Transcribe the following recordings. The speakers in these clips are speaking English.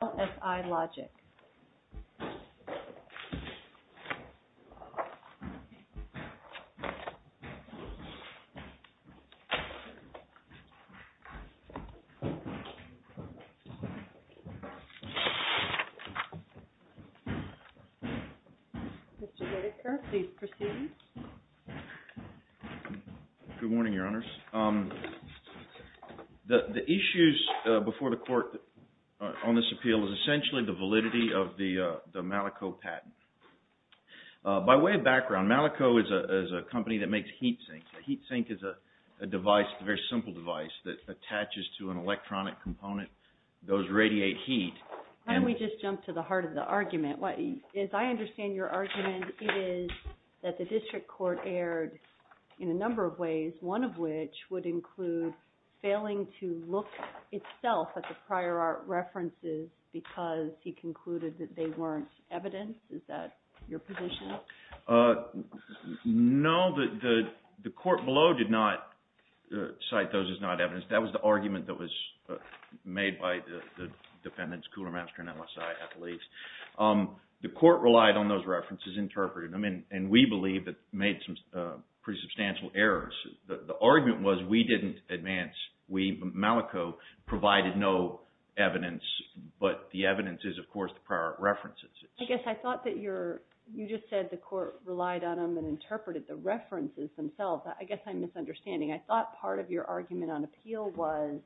Mr. Whitaker, please proceed. Good morning, Your Honors. The issues before the Court on this appeal is essentially the validity of the Malico patent. By way of background, Malico is a company that makes heat sinks. A heat sink is a device, a very simple device, that attaches to an electronic component. Those radiate heat. Why don't we just jump to the heart of the argument? As I understand your argument, it is that the District Court erred in a number of ways, one of which would include failing to look itself at the prior art references because he concluded that they weren't evidence. Is that your position? No, the Court below did not cite those as not evidence. That was the argument that was made by the defendants, Coolermaster and LSI at least. The Court relied on those references, interpreted them, and we believe that made some pretty substantial errors. The argument was we didn't advance. We, Malico, provided no evidence, but the evidence is, of course, the prior art references. I guess I thought that you just said the Court relied on them and interpreted the references themselves. I guess I'm misunderstanding. I thought part of your argument on appeal was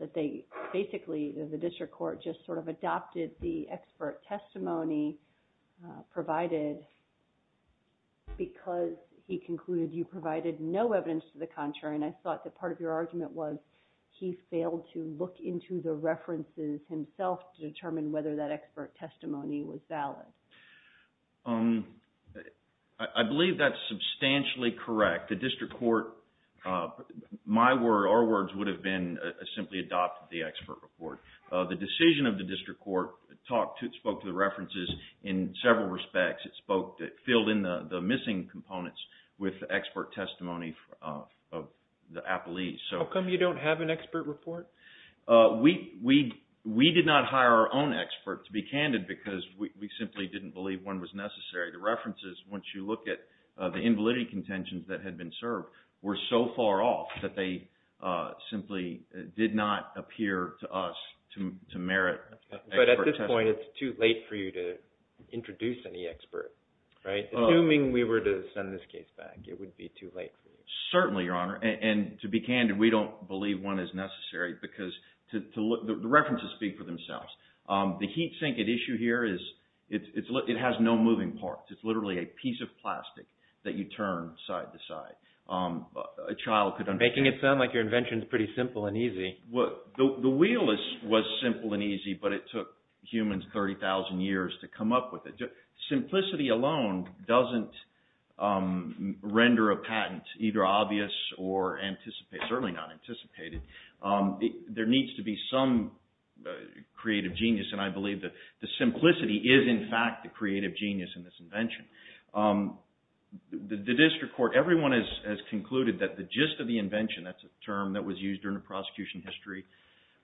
that they basically, the District Court, just sort of adopted the expert testimony provided because he concluded you provided no evidence to the contrary, and I thought that part of your argument was he failed to look into the references himself to determine whether that expert testimony was valid. I believe that's substantially correct. The District Court, our words would have been simply adopted the expert report. The decision of the District Court spoke to the references in several respects. It filled in the missing components with expert testimony of the appellees. How come you don't have an expert report? We did not hire our own expert to be candid because we simply didn't believe one was necessary. The references, once you look at the invalidity contentions that had been served, were so to us to merit expert testimony. But at this point, it's too late for you to introduce any expert, right? Assuming we were to send this case back, it would be too late for you. Certainly, Your Honor, and to be candid, we don't believe one is necessary because the references speak for themselves. The heat sink at issue here is, it has no moving parts. It's literally a piece of plastic that you turn side to side. A child could understand. You're making it sound like your invention is pretty simple and easy. The wheel was simple and easy, but it took humans 30,000 years to come up with it. Simplicity alone doesn't render a patent either obvious or anticipated, certainly not anticipated. There needs to be some creative genius, and I believe that the simplicity is, in fact, the creative genius in this invention. The District Court, everyone has concluded that the gist of the invention, that's a term that was used during the prosecution history,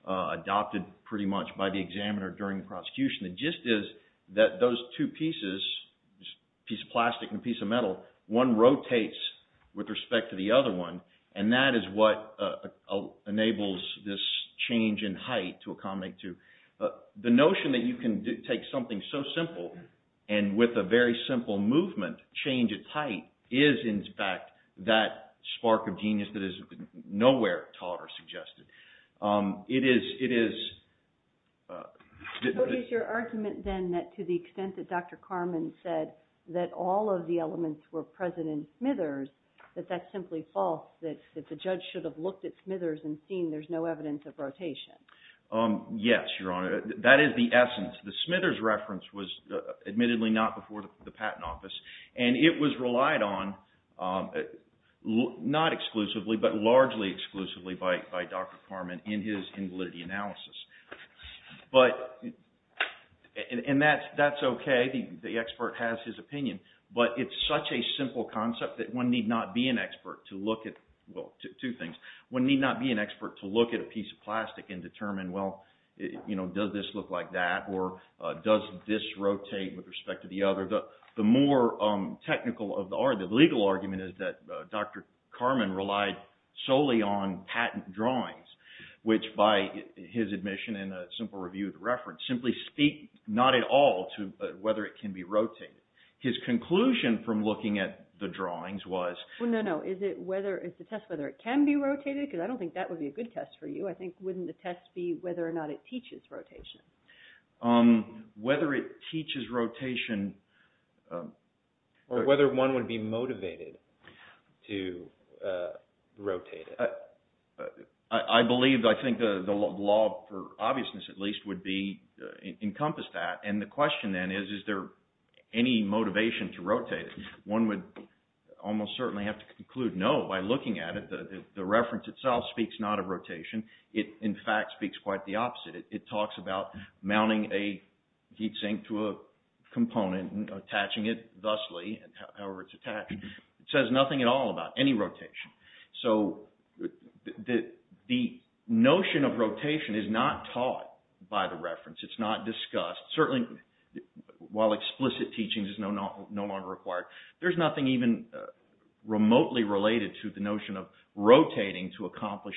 adopted pretty much by the examiner during the prosecution, the gist is that those two pieces, piece of plastic and piece of metal, one rotates with respect to the other one, and that is what enables this change in height to accommodate two. The notion that you can take something so simple and with a very simple movement, change its height, is, in fact, that spark of genius that is nowhere at all ever suggested. It is... What is your argument, then, that to the extent that Dr. Carman said that all of the elements were present in Smithers, that that's simply false, that the judge should have looked at Smithers and seen there's no evidence of rotation? Yes, Your Honor. That is the essence. The Smithers reference was admittedly not before the patent office, and it was relied on, not exclusively, but largely exclusively by Dr. Carman in his invalidity analysis. And that's okay, the expert has his opinion, but it's such a simple concept that one need not be an expert to look at, well, two things, one need not be an expert to look at a piece of plastic and determine, well, does this look like that, or does this rotate with respect to the other? The more technical of the argument, the legal argument, is that Dr. Carman relied solely on patent drawings, which by his admission in a simple review of the reference simply speak not at all to whether it can be rotated. His conclusion from looking at the drawings was... Well, no, no, is it whether, is the test whether it can be rotated? Because I don't think that would be a good test for you. I think, wouldn't the test be whether or not it teaches rotation? Whether it teaches rotation... Or whether one would be motivated to rotate it. I believe, I think the law for obviousness, at least, would encompass that, and the question then is, is there any motivation to rotate it? One would almost certainly have to conclude no by looking at it, the reference itself speaks not of rotation, it in fact speaks quite the opposite. It talks about mounting a heat sink to a component and attaching it thusly, however it's attached. It says nothing at all about any rotation. So the notion of rotation is not taught by the reference, it's not discussed. Certainly, while explicit teachings is no longer required, there's nothing even remotely related to the notion of rotating to accomplish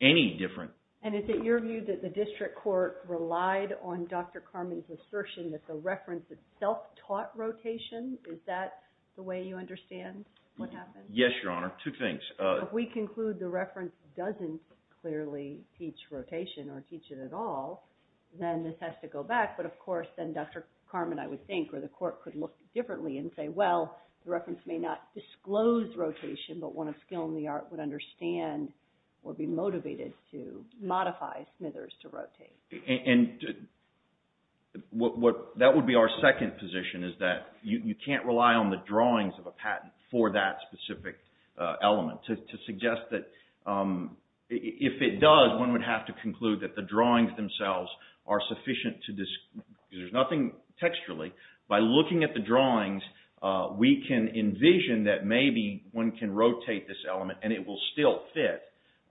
any different... And is it your view that the district court relied on Dr. Carman's assertion that the reference itself taught rotation? Is that the way you understand what happened? Yes, Your Honor, two things. If we conclude the reference doesn't clearly teach rotation or teach it at all, then this has to go back, but of course then Dr. Carman, I would think, or the court could look differently and say, well, the reference may not disclose rotation, but one of skill in the art would understand or be motivated to modify Smithers to rotate. That would be our second position, is that you can't rely on the drawings of a patent for that specific element. To suggest that if it does, one would have to conclude that the drawings themselves are sufficient to... There's nothing texturally. By looking at the drawings, we can envision that maybe one can rotate this element and it will still fit.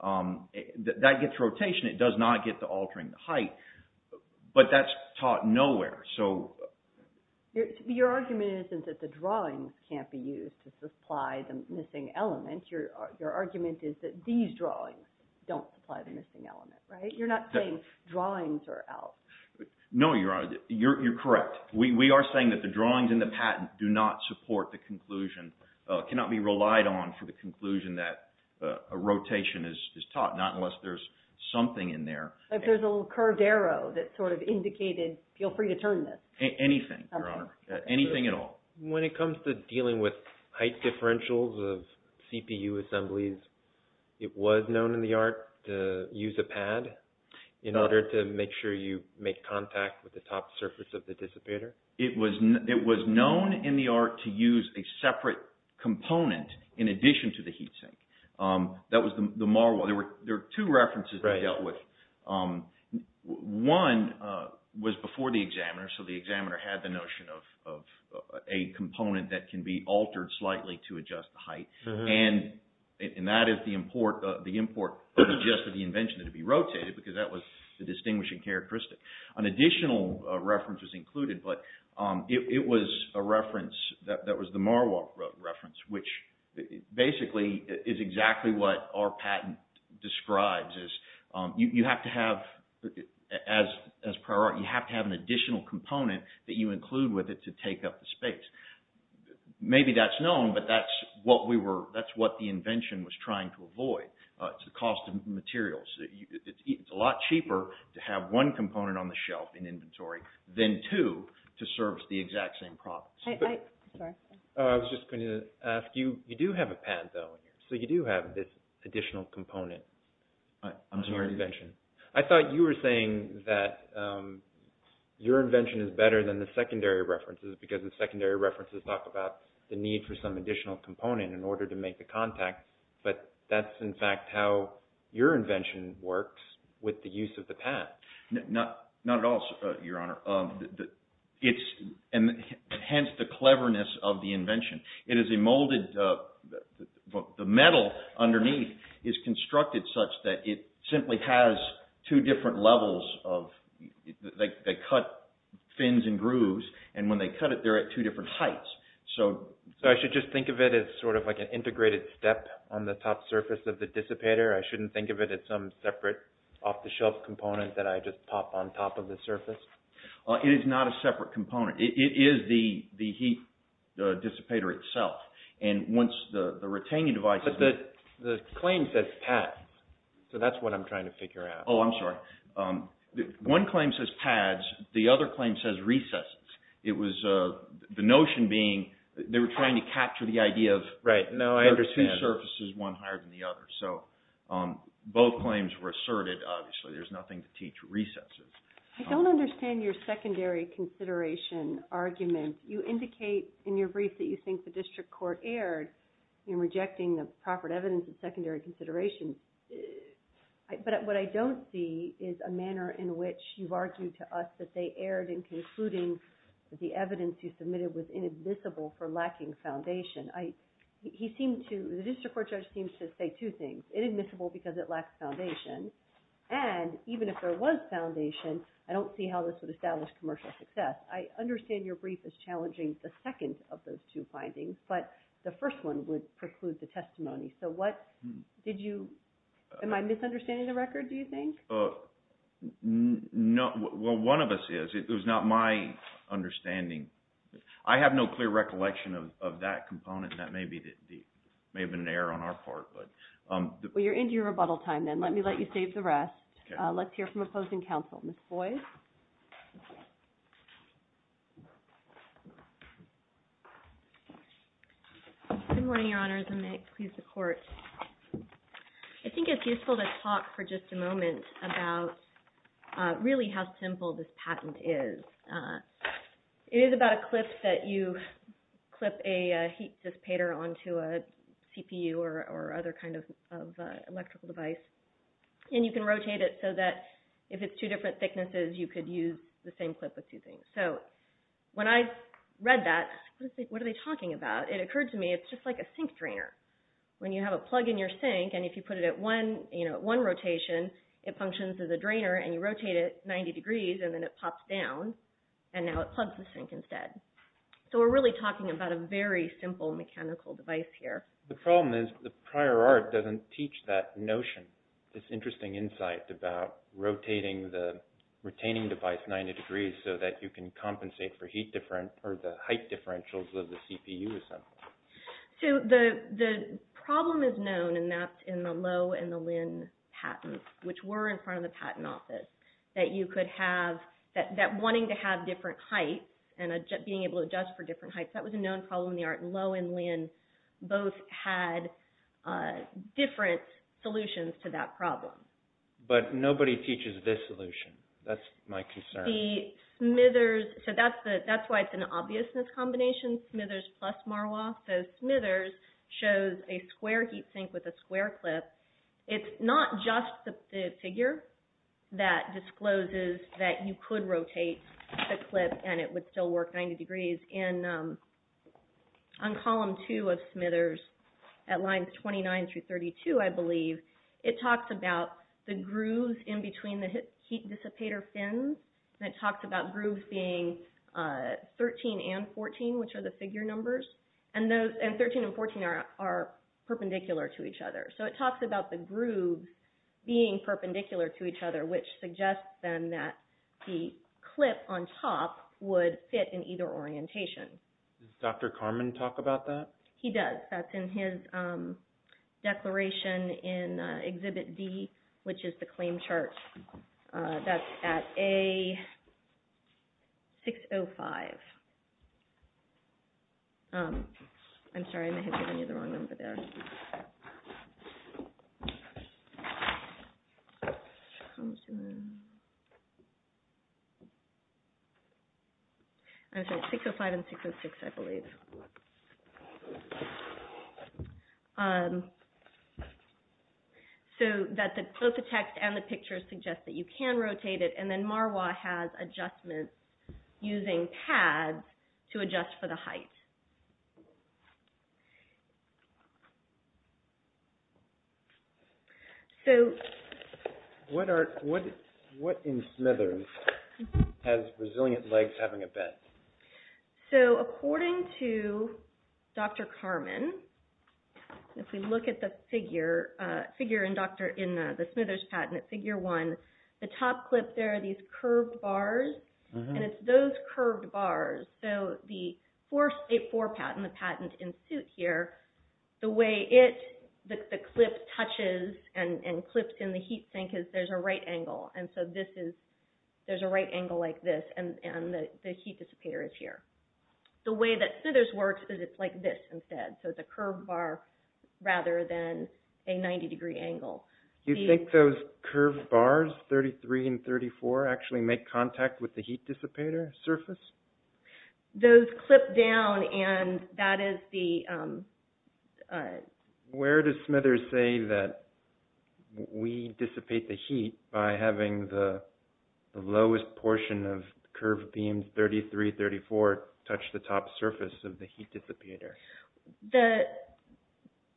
That gets rotation. It does not get to altering the height, but that's taught nowhere. Your argument isn't that the drawings can't be used to supply the missing element. Your argument is that these drawings don't supply the missing element, right? You're not saying drawings are out. No, Your Honor. You're correct. We are saying that the drawings and the patent do not support the conclusion, cannot be relied on for the conclusion that a rotation is taught, not unless there's something in there. Like there's a little curved arrow that sort of indicated, feel free to turn this. Anything, Your Honor. Anything at all. When it comes to dealing with height differentials of CPU assemblies, it was known in the art to use a pad in order to make sure you make contact with the top surface of the dissipator? It was known in the art to use a separate component in addition to the heat sink. That was the Marwell. There were two references they dealt with. One was before the examiner, so the examiner had the notion of a component that can be altered slightly to adjust the import, adjust the invention to be rotated, because that was the distinguishing characteristic. An additional reference was included, but it was a reference that was the Marwell reference, which basically is exactly what our patent describes. You have to have, as prior art, you have to have an additional component that you include with it to take up the space. Maybe that's known, but that's what the invention was trying to avoid. It's the cost of materials. It's a lot cheaper to have one component on the shelf in inventory than two to serve the exact same purpose. I was just going to ask you, you do have a pad though, so you do have this additional component on your invention. I thought you were saying that your invention is better than the secondary references, because the secondary references talk about the need for some additional component in order to make the contact, but that's in fact how your invention works with the use of the pad. Not at all, Your Honor. Hence the cleverness of the invention. It is a molded... The metal underneath is constructed such that it simply has two different levels of... They cut fins and grooves, and when they cut it, they're at two different heights. I should just think of it as sort of like an integrated step on the top surface of the dissipator? I shouldn't think of it as some separate off-the-shelf component that I just pop on top of the surface? It is not a separate component. It is the heat dissipator itself. Once the retaining device... But the claim says pads, so that's what I'm trying to figure out. Oh, I'm sorry. One claim says pads. The other claim says recesses. It was the notion being they were trying to capture the idea of... Right. No, I understand.... there are two surfaces, one higher than the other. Both claims were asserted, obviously. There's nothing to teach recesses. I don't understand your secondary consideration argument. You indicate in your brief that you think the district court erred in rejecting the proper evidence of secondary consideration, but what I don't see is a manner in which you've argued to us that they erred in concluding the evidence you submitted was inadmissible for lacking foundation. He seemed to... The district court judge seems to say two things, inadmissible because it lacks foundation, and even if there was foundation, I don't see how this would establish commercial success. I understand your brief is challenging the second of those two findings, but the first one would preclude the testimony. Am I misunderstanding the record, do you think? No. Well, one of us is. It was not my understanding. I have no clear recollection of that component. That may have been an error on our part, but... Well, you're into your rebuttal time, then. Let me let you save the rest. Okay. Let's hear from opposing counsel. Ms. Boyd? Good morning, Your Honors, and may it please the Court. I think it's useful to talk for just a moment about really how simple this patent is. It is about a clip that you clip a heat dissipator onto a CPU or other kind of electrical device, and you can rotate it so that if it's two different thicknesses, you could use the same clip with two things. So when I read that, I was like, what are they talking about? It occurred to me it's just like a sink drainer. When you have a plug in your sink, and if you put it at one rotation, it functions as a drainer, and you rotate it 90 degrees, and then it pops down, and now it plugs the sink instead. So we're really talking about a very simple mechanical device here. The problem is the prior art doesn't teach that notion, this interesting insight about rotating the retaining device 90 degrees so that you can compensate for heat difference or the height differentials of the CPU assembly. The problem is known, and that's in the Lowe and the Lynn patents, which were in front of the Patent Office, that you could have, that wanting to have different heights and being able to adjust for different heights, that was a known problem in the art. Lowe and Lynn both had different solutions to that problem. But nobody teaches this solution. That's my concern. The Smithers, so that's why it's an obviousness combination, Smithers plus Marwah. So Smithers shows a square heat sink with a square clip. It's not just the figure that discloses that you could rotate the clip and it would still work 90 degrees. On column two of Smithers at lines 29 through 32, I believe, it talks about the grooves in between the heat dissipator fins, and it talks about grooves being 13 and 14, which are the figure numbers, and 13 and 14 are perpendicular to each other. So it talks about the grooves being perpendicular to each other, which suggests then that the clip on top would fit in either orientation. Does Dr. Karmann talk about that? He does. That's in his declaration in Exhibit D, which is the claim chart. That's at A605. I'm sorry, I may have given you the wrong number there. I'm sorry, 605 and 606. So both the text and the picture suggest that you can rotate it, and then Marwah has adjustments using pads to adjust for the height. So what in Smithers has resilient legs having a bed? So according to Dr. Karmann, if we look at the figure in the Smithers patent at figure 1, the top clip there are these curved bars, and it's those curved bars. So the 4-state 4 patent, the patent in suit here, the way it, the clip touches and clips in the heat sink is there's a right angle, and so this is, there's a right angle like this, and the heat dissipator is here. The way that Smithers works is it's like this instead, so it's a curved bar, 33 and 34 actually make contact with the heat dissipator surface? Those clip down, and that is the... Where does Smithers say that we dissipate the heat by having the lowest portion of curved beams, 33, 34, touch the top surface of the heat dissipator?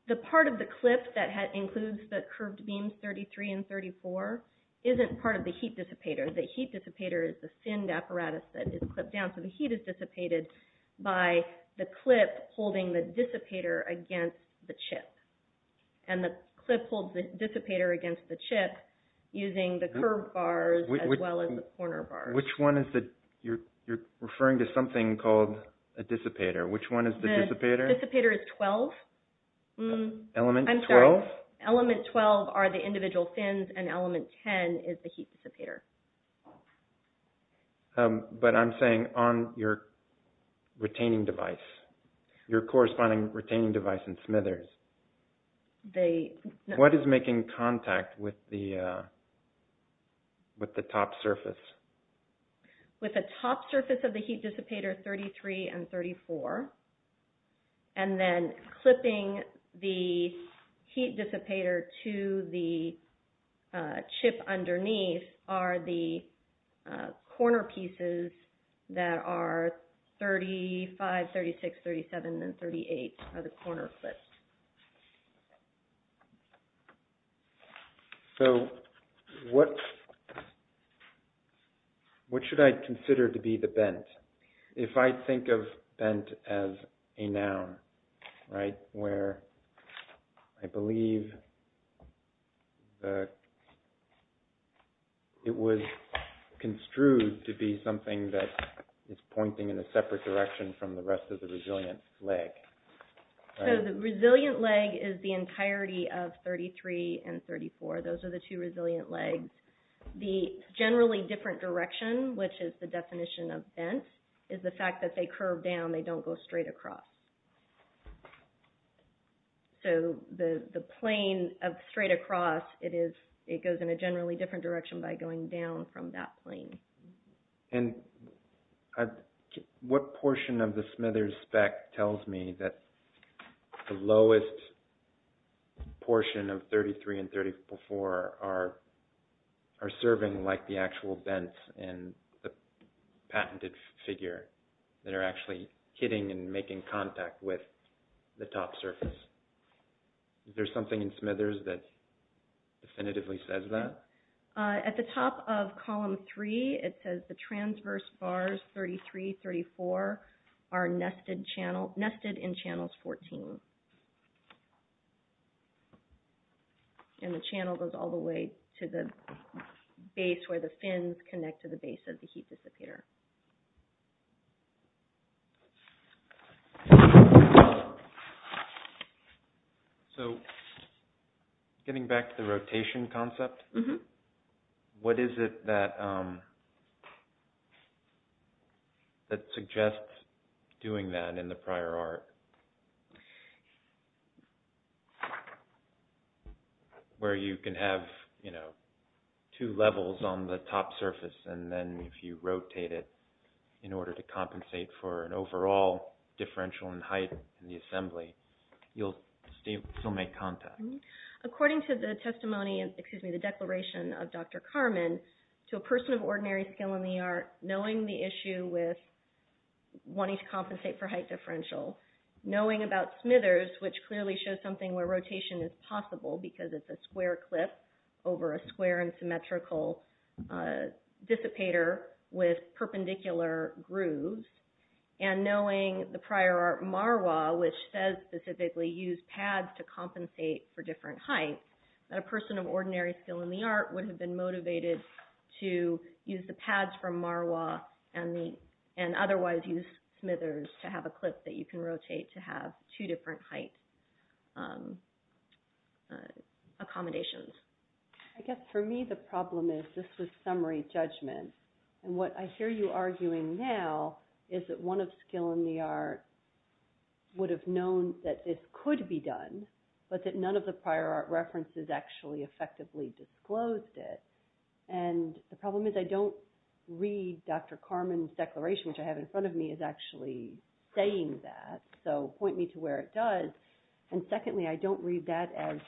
The part of the clip that includes the curved beams 33 and 34 isn't part of the heat dissipator. The heat dissipator is the thinned apparatus that is clipped down, so the heat is dissipated by the clip holding the dissipator against the chip, and the clip holds the dissipator against the chip using the curved bars as well as the corner bars. Which one is the, you're referring to something called a dissipator. Which one is the dissipator Dissipator is 12. Element 12? Element 12 are the individual fins, and element 10 is the heat dissipator. But I'm saying on your retaining device, your corresponding retaining device in Smithers, what is making contact with the top surface? With the top surface of the heat dissipator 33 and 34, and then clipping the heat dissipator to the chip underneath are the corner pieces that are 35, 36, 37, and 38 are the corner clips. So, what, what should I consider to be the bent? If I think of bent as a noun, right, where I believe the, it was construed to be something that is pointing in a separate direction from the rest of the resilient leg. So, the resilient leg is the entirety of 33 and 34. Those are the two resilient legs. The generally different direction, which is the definition of bent, is the fact that they curve down, they don't go straight across. So, the plane of straight across, it is, it goes in a generally different direction by going down from that plane. And what portion of the Smithers spec tells me that the lowest portion of 33 and 34 are serving like the actual bent and the patented figure that are actually hitting and making contact with the top surface? Is there something in Smithers that definitively says that? At the top of column three, it says the transverse bars 33, 34 are nested channel, nested in channels 14. And the channel goes all the way to the base where the fins connect to the base of the heat dissipator. So, getting back to the rotation concept, what is it that suggests doing that in the prior art? Where you can have two levels on the top surface and then if you rotate it in order to compensate for an overall differential in height in the assembly, you'll still make contact. According to the testimony, excuse me, the declaration of Dr. Carman, to a person of ordinary skill in the art, knowing the issue with wanting to compensate for height differential, knowing about Smithers, which clearly shows something where rotation is possible because it's a square clip over a square and symmetrical dissipator with perpendicular grooves, and knowing the prior art Marwa, which says specifically use pads to compensate for different heights, that a person of ordinary skill in the art would have been motivated to use the pads from Marwa and otherwise use Smithers to have a clip that you can rotate to have two different height accommodations. I guess for me the problem is, this was summary judgment, and what I hear you arguing now is that one of skill in the art would have known that this could be done, but that none of the prior art references actually effectively disclosed it, and the problem is I don't read Dr. Carman's declaration, which I have in front of me, is actually saying that, so point me to where it does, and secondly, I don't read that as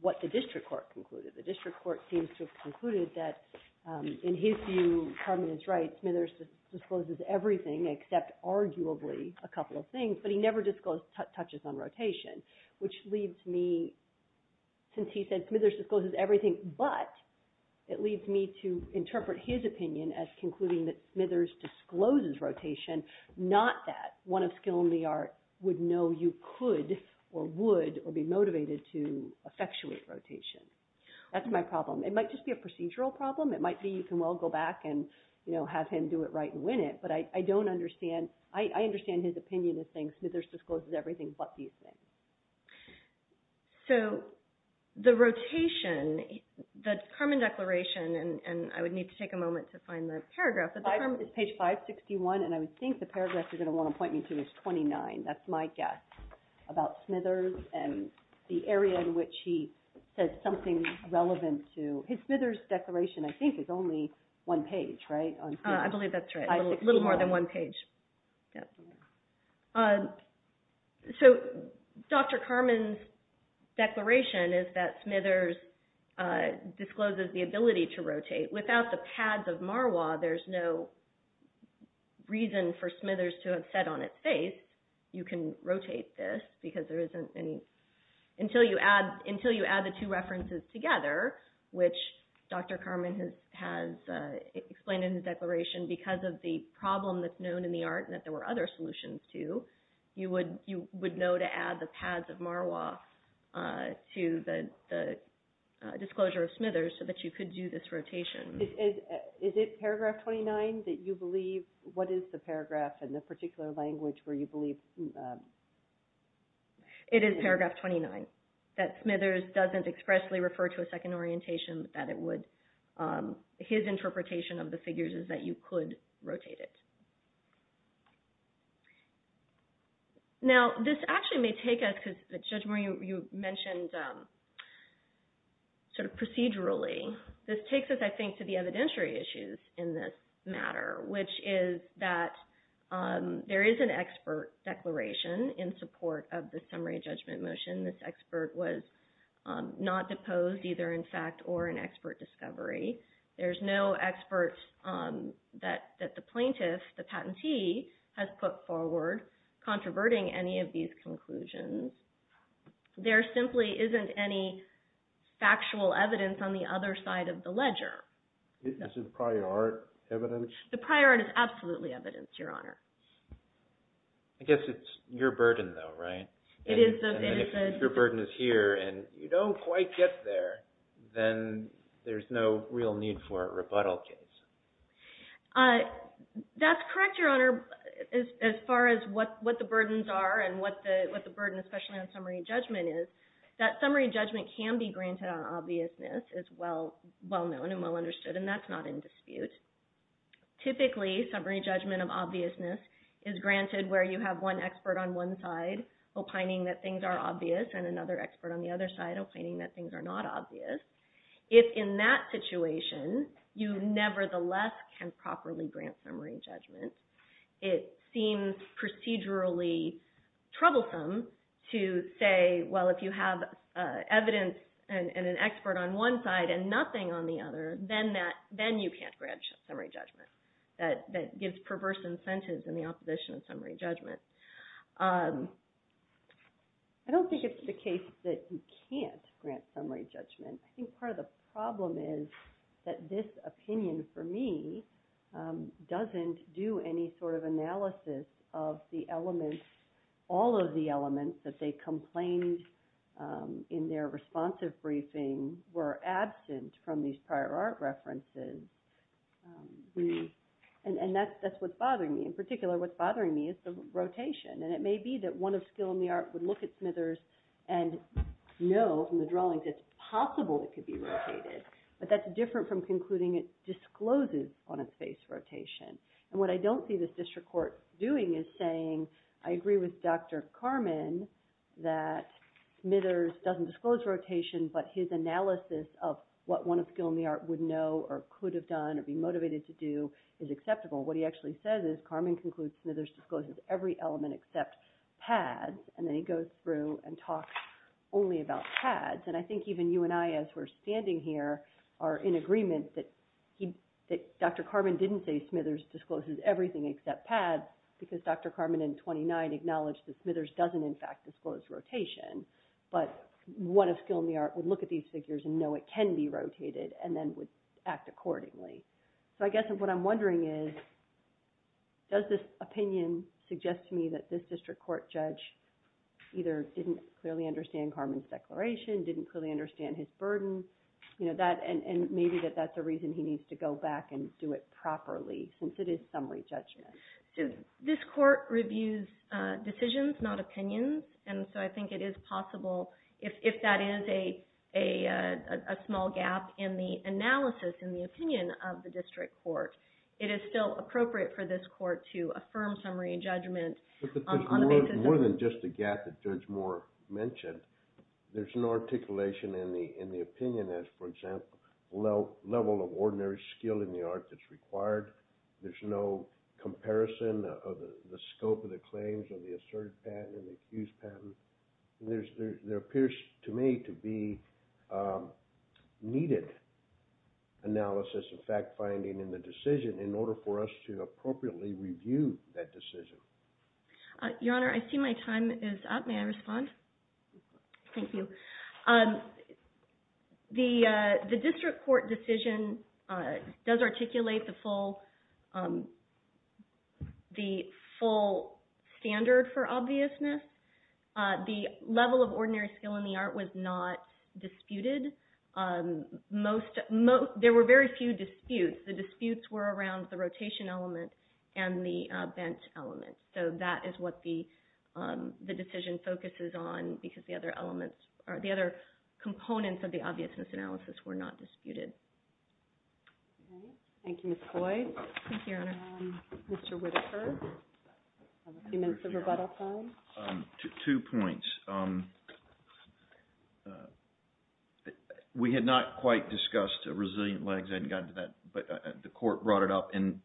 what the district court concluded. The district court seems to have concluded that in his view, Carman is right, Smithers discloses everything except arguably a couple of things, but he never disclosed touches on rotation, which leads me, since he said Smithers discloses everything, but it leads me to interpret his opinion as concluding that Smithers discloses rotation, not that one of skill in the art would know you could or would or be motivated to effectuate rotation. That's my problem. It might just be a procedural problem. It might be you can well go back and have him do it right and win it, but I don't understand. I understand his opinion is saying Smithers discloses everything, but these things. So the rotation, the Carman declaration, and I would need to take a moment to find the to his 29, that's my guess, about Smithers and the area in which he says something relevant to, his Smithers declaration, I think, is only one page, right? I believe that's right, a little more than one page, yes. So Dr. Carman's declaration is that Smithers discloses the ability to rotate. Without the pads of Marois, there's no reason for Smithers to have said on its face, you can rotate this, because there isn't any, until you add the two references together, which Dr. Carman has explained in his declaration because of the problem that's known in the art and that there were other solutions to, you would know to add the pads of Marois to the disclosure of Smithers so that you could do this rotation. Is it paragraph 29 that you believe, what is the paragraph in the particular language where you believe? It is paragraph 29, that Smithers doesn't expressly refer to a second orientation, but that it would, his interpretation of the figures is that you could rotate it. Now, this actually may take us, because Judge Murray, you mentioned sort of procedurally, this takes us, I think, to the evidentiary issues in this matter, which is that there is an expert declaration in support of the summary judgment motion. This expert was not proposed, either in fact or an expert discovery. There's no expert that the plaintiff, the patentee, has put forward, controverting any of these conclusions. There simply isn't any factual evidence on the other side of the ledger. This is prior art evidence? The prior art is absolutely evidence, Your Honor. I guess it's your burden, though, right? It is. And if your burden is here and you don't quite get there, then there's no real need for a rebuttal case. That's correct, Your Honor, as far as what the burdens are and what the burden, especially on summary judgment is. That summary judgment can be granted on obviousness, is well-known and well-understood, and that's not in dispute. Typically, summary judgment of obviousness is granted where you have one expert on one side opining that things are obvious and another expert on the other side opining that things are not obvious. If in that situation, you nevertheless can properly grant summary judgment, it seems procedurally troublesome to say, well, if you have evidence and an expert on one side and nothing on the other, then you can't grant summary judgment. That gives perverse incentives in the opposition of summary judgment. I don't think it's the case that you can't grant summary judgment. I think part of the problem is that this opinion, for me, doesn't do any sort of analysis of the elements, all of the elements that they complained in their responsive briefing were absent from these prior art references. That's what's bothering me. In particular, what's bothering me is the rotation. It may be that one of skill in the art would look at Smithers and know from the drawings it's possible it could be rotated, but that's different from concluding it discloses on a face rotation. What I don't see this district court doing is saying, I agree with Dr. Carman that Smithers doesn't disclose rotation, but his analysis of what one of skill in the art would know or could have done or be motivated to do is acceptable. What he actually says is, Carman concludes Smithers discloses every element except pads, and then he goes through and talks only about pads. I think even you and I, as we're standing here, are in agreement that Dr. Carman didn't say Smithers discloses everything except pads because Dr. Carman in 29 acknowledged that Smithers doesn't, in fact, disclose rotation. One of skill in the art would look at these figures and know it can be rotated and then would act accordingly. I guess what I'm wondering is, does this opinion suggest to me that this district court judge either didn't clearly understand Carman's declaration, didn't clearly understand his burden, and maybe that that's a reason he needs to go back and do it properly since it is summary judgment. This court reviews decisions, not opinions, and so I think it is possible, if that is a small gap in the analysis and the opinion of the district court, it is still appropriate for this court to affirm summary judgment on the basis of— But there's more than just a gap that Judge Moore mentioned. There's no articulation in the opinion as, for example, level of ordinary skill in the art that's required. There's no comparison of the scope of the claims of the Assertive Patent and the Accused Patent. There appears to me to be needed analysis and fact-finding in the decision in order for us to appropriately review that decision. Your Honor, I see my time is up. May I respond? Thank you. The district court decision does articulate the full standard for obviousness. The level of ordinary skill in the art was not disputed. There were very few disputes. The disputes were around the rotation element and the bent element, so that is what the decision focuses on because the other elements of the analysis were not disputed. Thank you, Ms. Coy. Thank you, Your Honor. Mr. Whittaker, do you have a few minutes of rebuttal time? Two points. We had not quite discussed resilient legs. I hadn't gotten to that, but the court brought it up and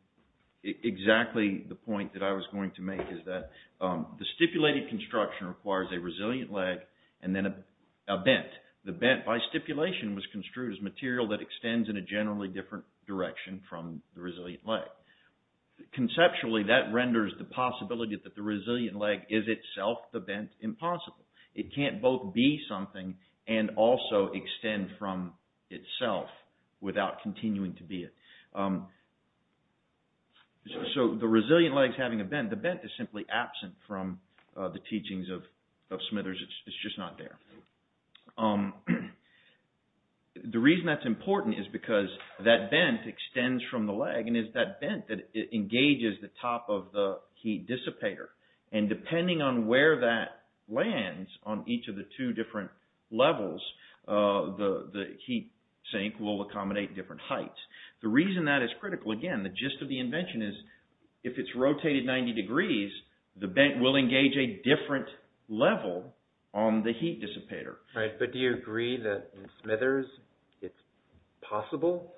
exactly the point that I was going to make is that the stipulated construction requires a resilient leg and then a bent. The bent by stipulation was construed as material that extends in a generally different direction from the resilient leg. Conceptually, that renders the possibility that the resilient leg is itself the bent impossible. It can't both be something and also extend from itself without continuing to be it. So the resilient leg is having a bent. The bent is simply absent from the teachings of Smithers. It's just not there. The reason that's important is because that bent extends from the leg and is that bent that engages the top of the heat dissipator and depending on where that lands on each of the two different levels, the heat sink will accommodate different heights. The reason that is critical, again, the gist of the invention is if it's rotated 90 degrees, the bent will engage a different level on the heat dissipator. Right, but do you agree that in Smithers it's possible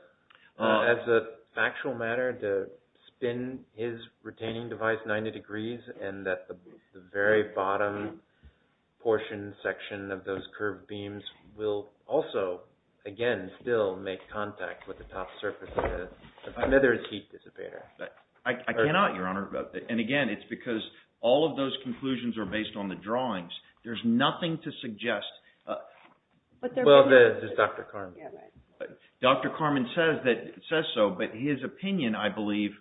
as a factual matter to spin his retaining device 90 degrees and that the very bottom portion section of those curved beams will also, again, still make contact with the top surface of the Smithers heat dissipator? I cannot, Your Honor. And again, it's because all of those conclusions are based on the drawings. There's nothing to suggest. Well, there's Dr. Carman. Dr. Carman says so, but his opinion, I believe,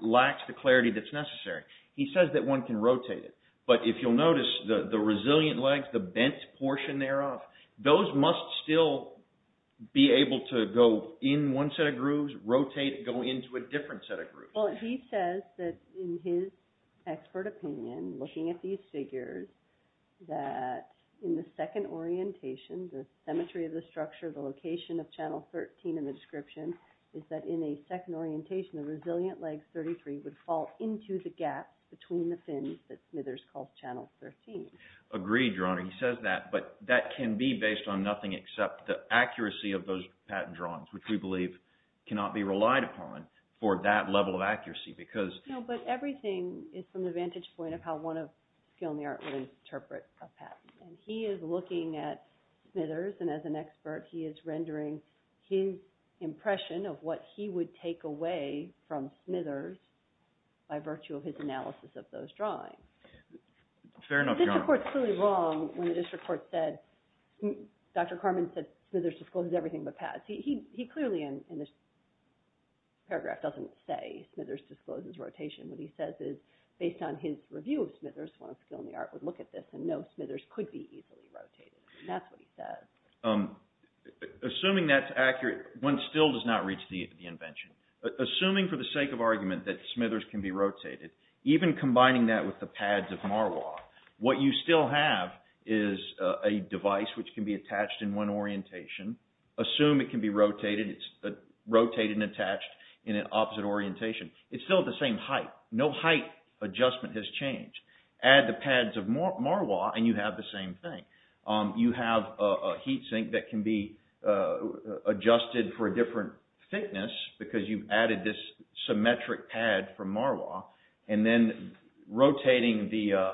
lacks the clarity that's necessary. He says that one can rotate it, but if you'll notice, the resilient legs, the bent portion thereof, those must still be able to go in one set of grooves, rotate it, go into a different set of grooves. Well, he says that in his expert opinion, looking at these figures, that in the second orientation, the symmetry of the structure, the location of channel 13 in the description, is that in a second orientation, the resilient leg 33 would fall into the gap between the fins that Smithers called channel 13. Agreed, Your Honor. He says that can be based on nothing except the accuracy of those patent drawings, which we believe cannot be relied upon for that level of accuracy, because... No, but everything is from the vantage point of how one of skill in the art would interpret a patent. And he is looking at Smithers, and as an expert, he is rendering his impression of what he would take away from Smithers by virtue of his analysis of those drawings. Fair enough, Your Honor. But the district court is clearly wrong when the district court said, Dr. Carman said Smithers discloses everything but pads. He clearly, in this paragraph, doesn't say Smithers discloses rotation. What he says is, based on his review of Smithers, one of skill in the art would look at this and know Smithers could be easily rotated, and that's what he says. Assuming that's accurate, one still does not reach the invention. Assuming for the sake of argument that Smithers can be rotated, even combining that with the pads of Marois, what you still have is a device which can be attached in one orientation. Assume it can be rotated, it's rotated and attached in an opposite orientation. It's still at the same height. No height adjustment has changed. Add the pads of Marois, and you have the same thing. You have a heat sink that can be adjusted for a different thickness because you've added this symmetric pad from Marois, and then rotating the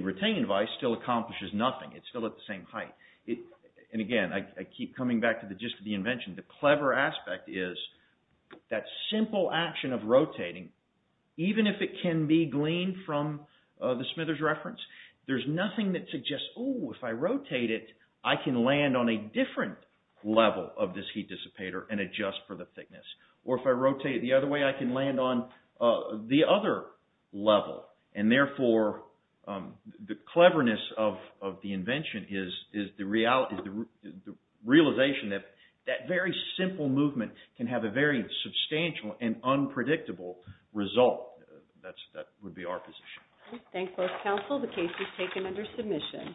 retaining device still accomplishes nothing. It's still at the same height. And again, I keep coming back to the gist of the invention. The clever aspect is that simple action of rotating, even if it can be gleaned from the Smithers reference, there's nothing that suggests, oh, if I rotate it, I can land on a different level of this heat dissipator and adjust for the thickness. Or if I rotate it the other way, I can land on the other level. And therefore, the cleverness of the invention is the realization that that very simple movement can have a very substantial and unpredictable result. That would be our position. Thank you both counsel. The case is taken under submission.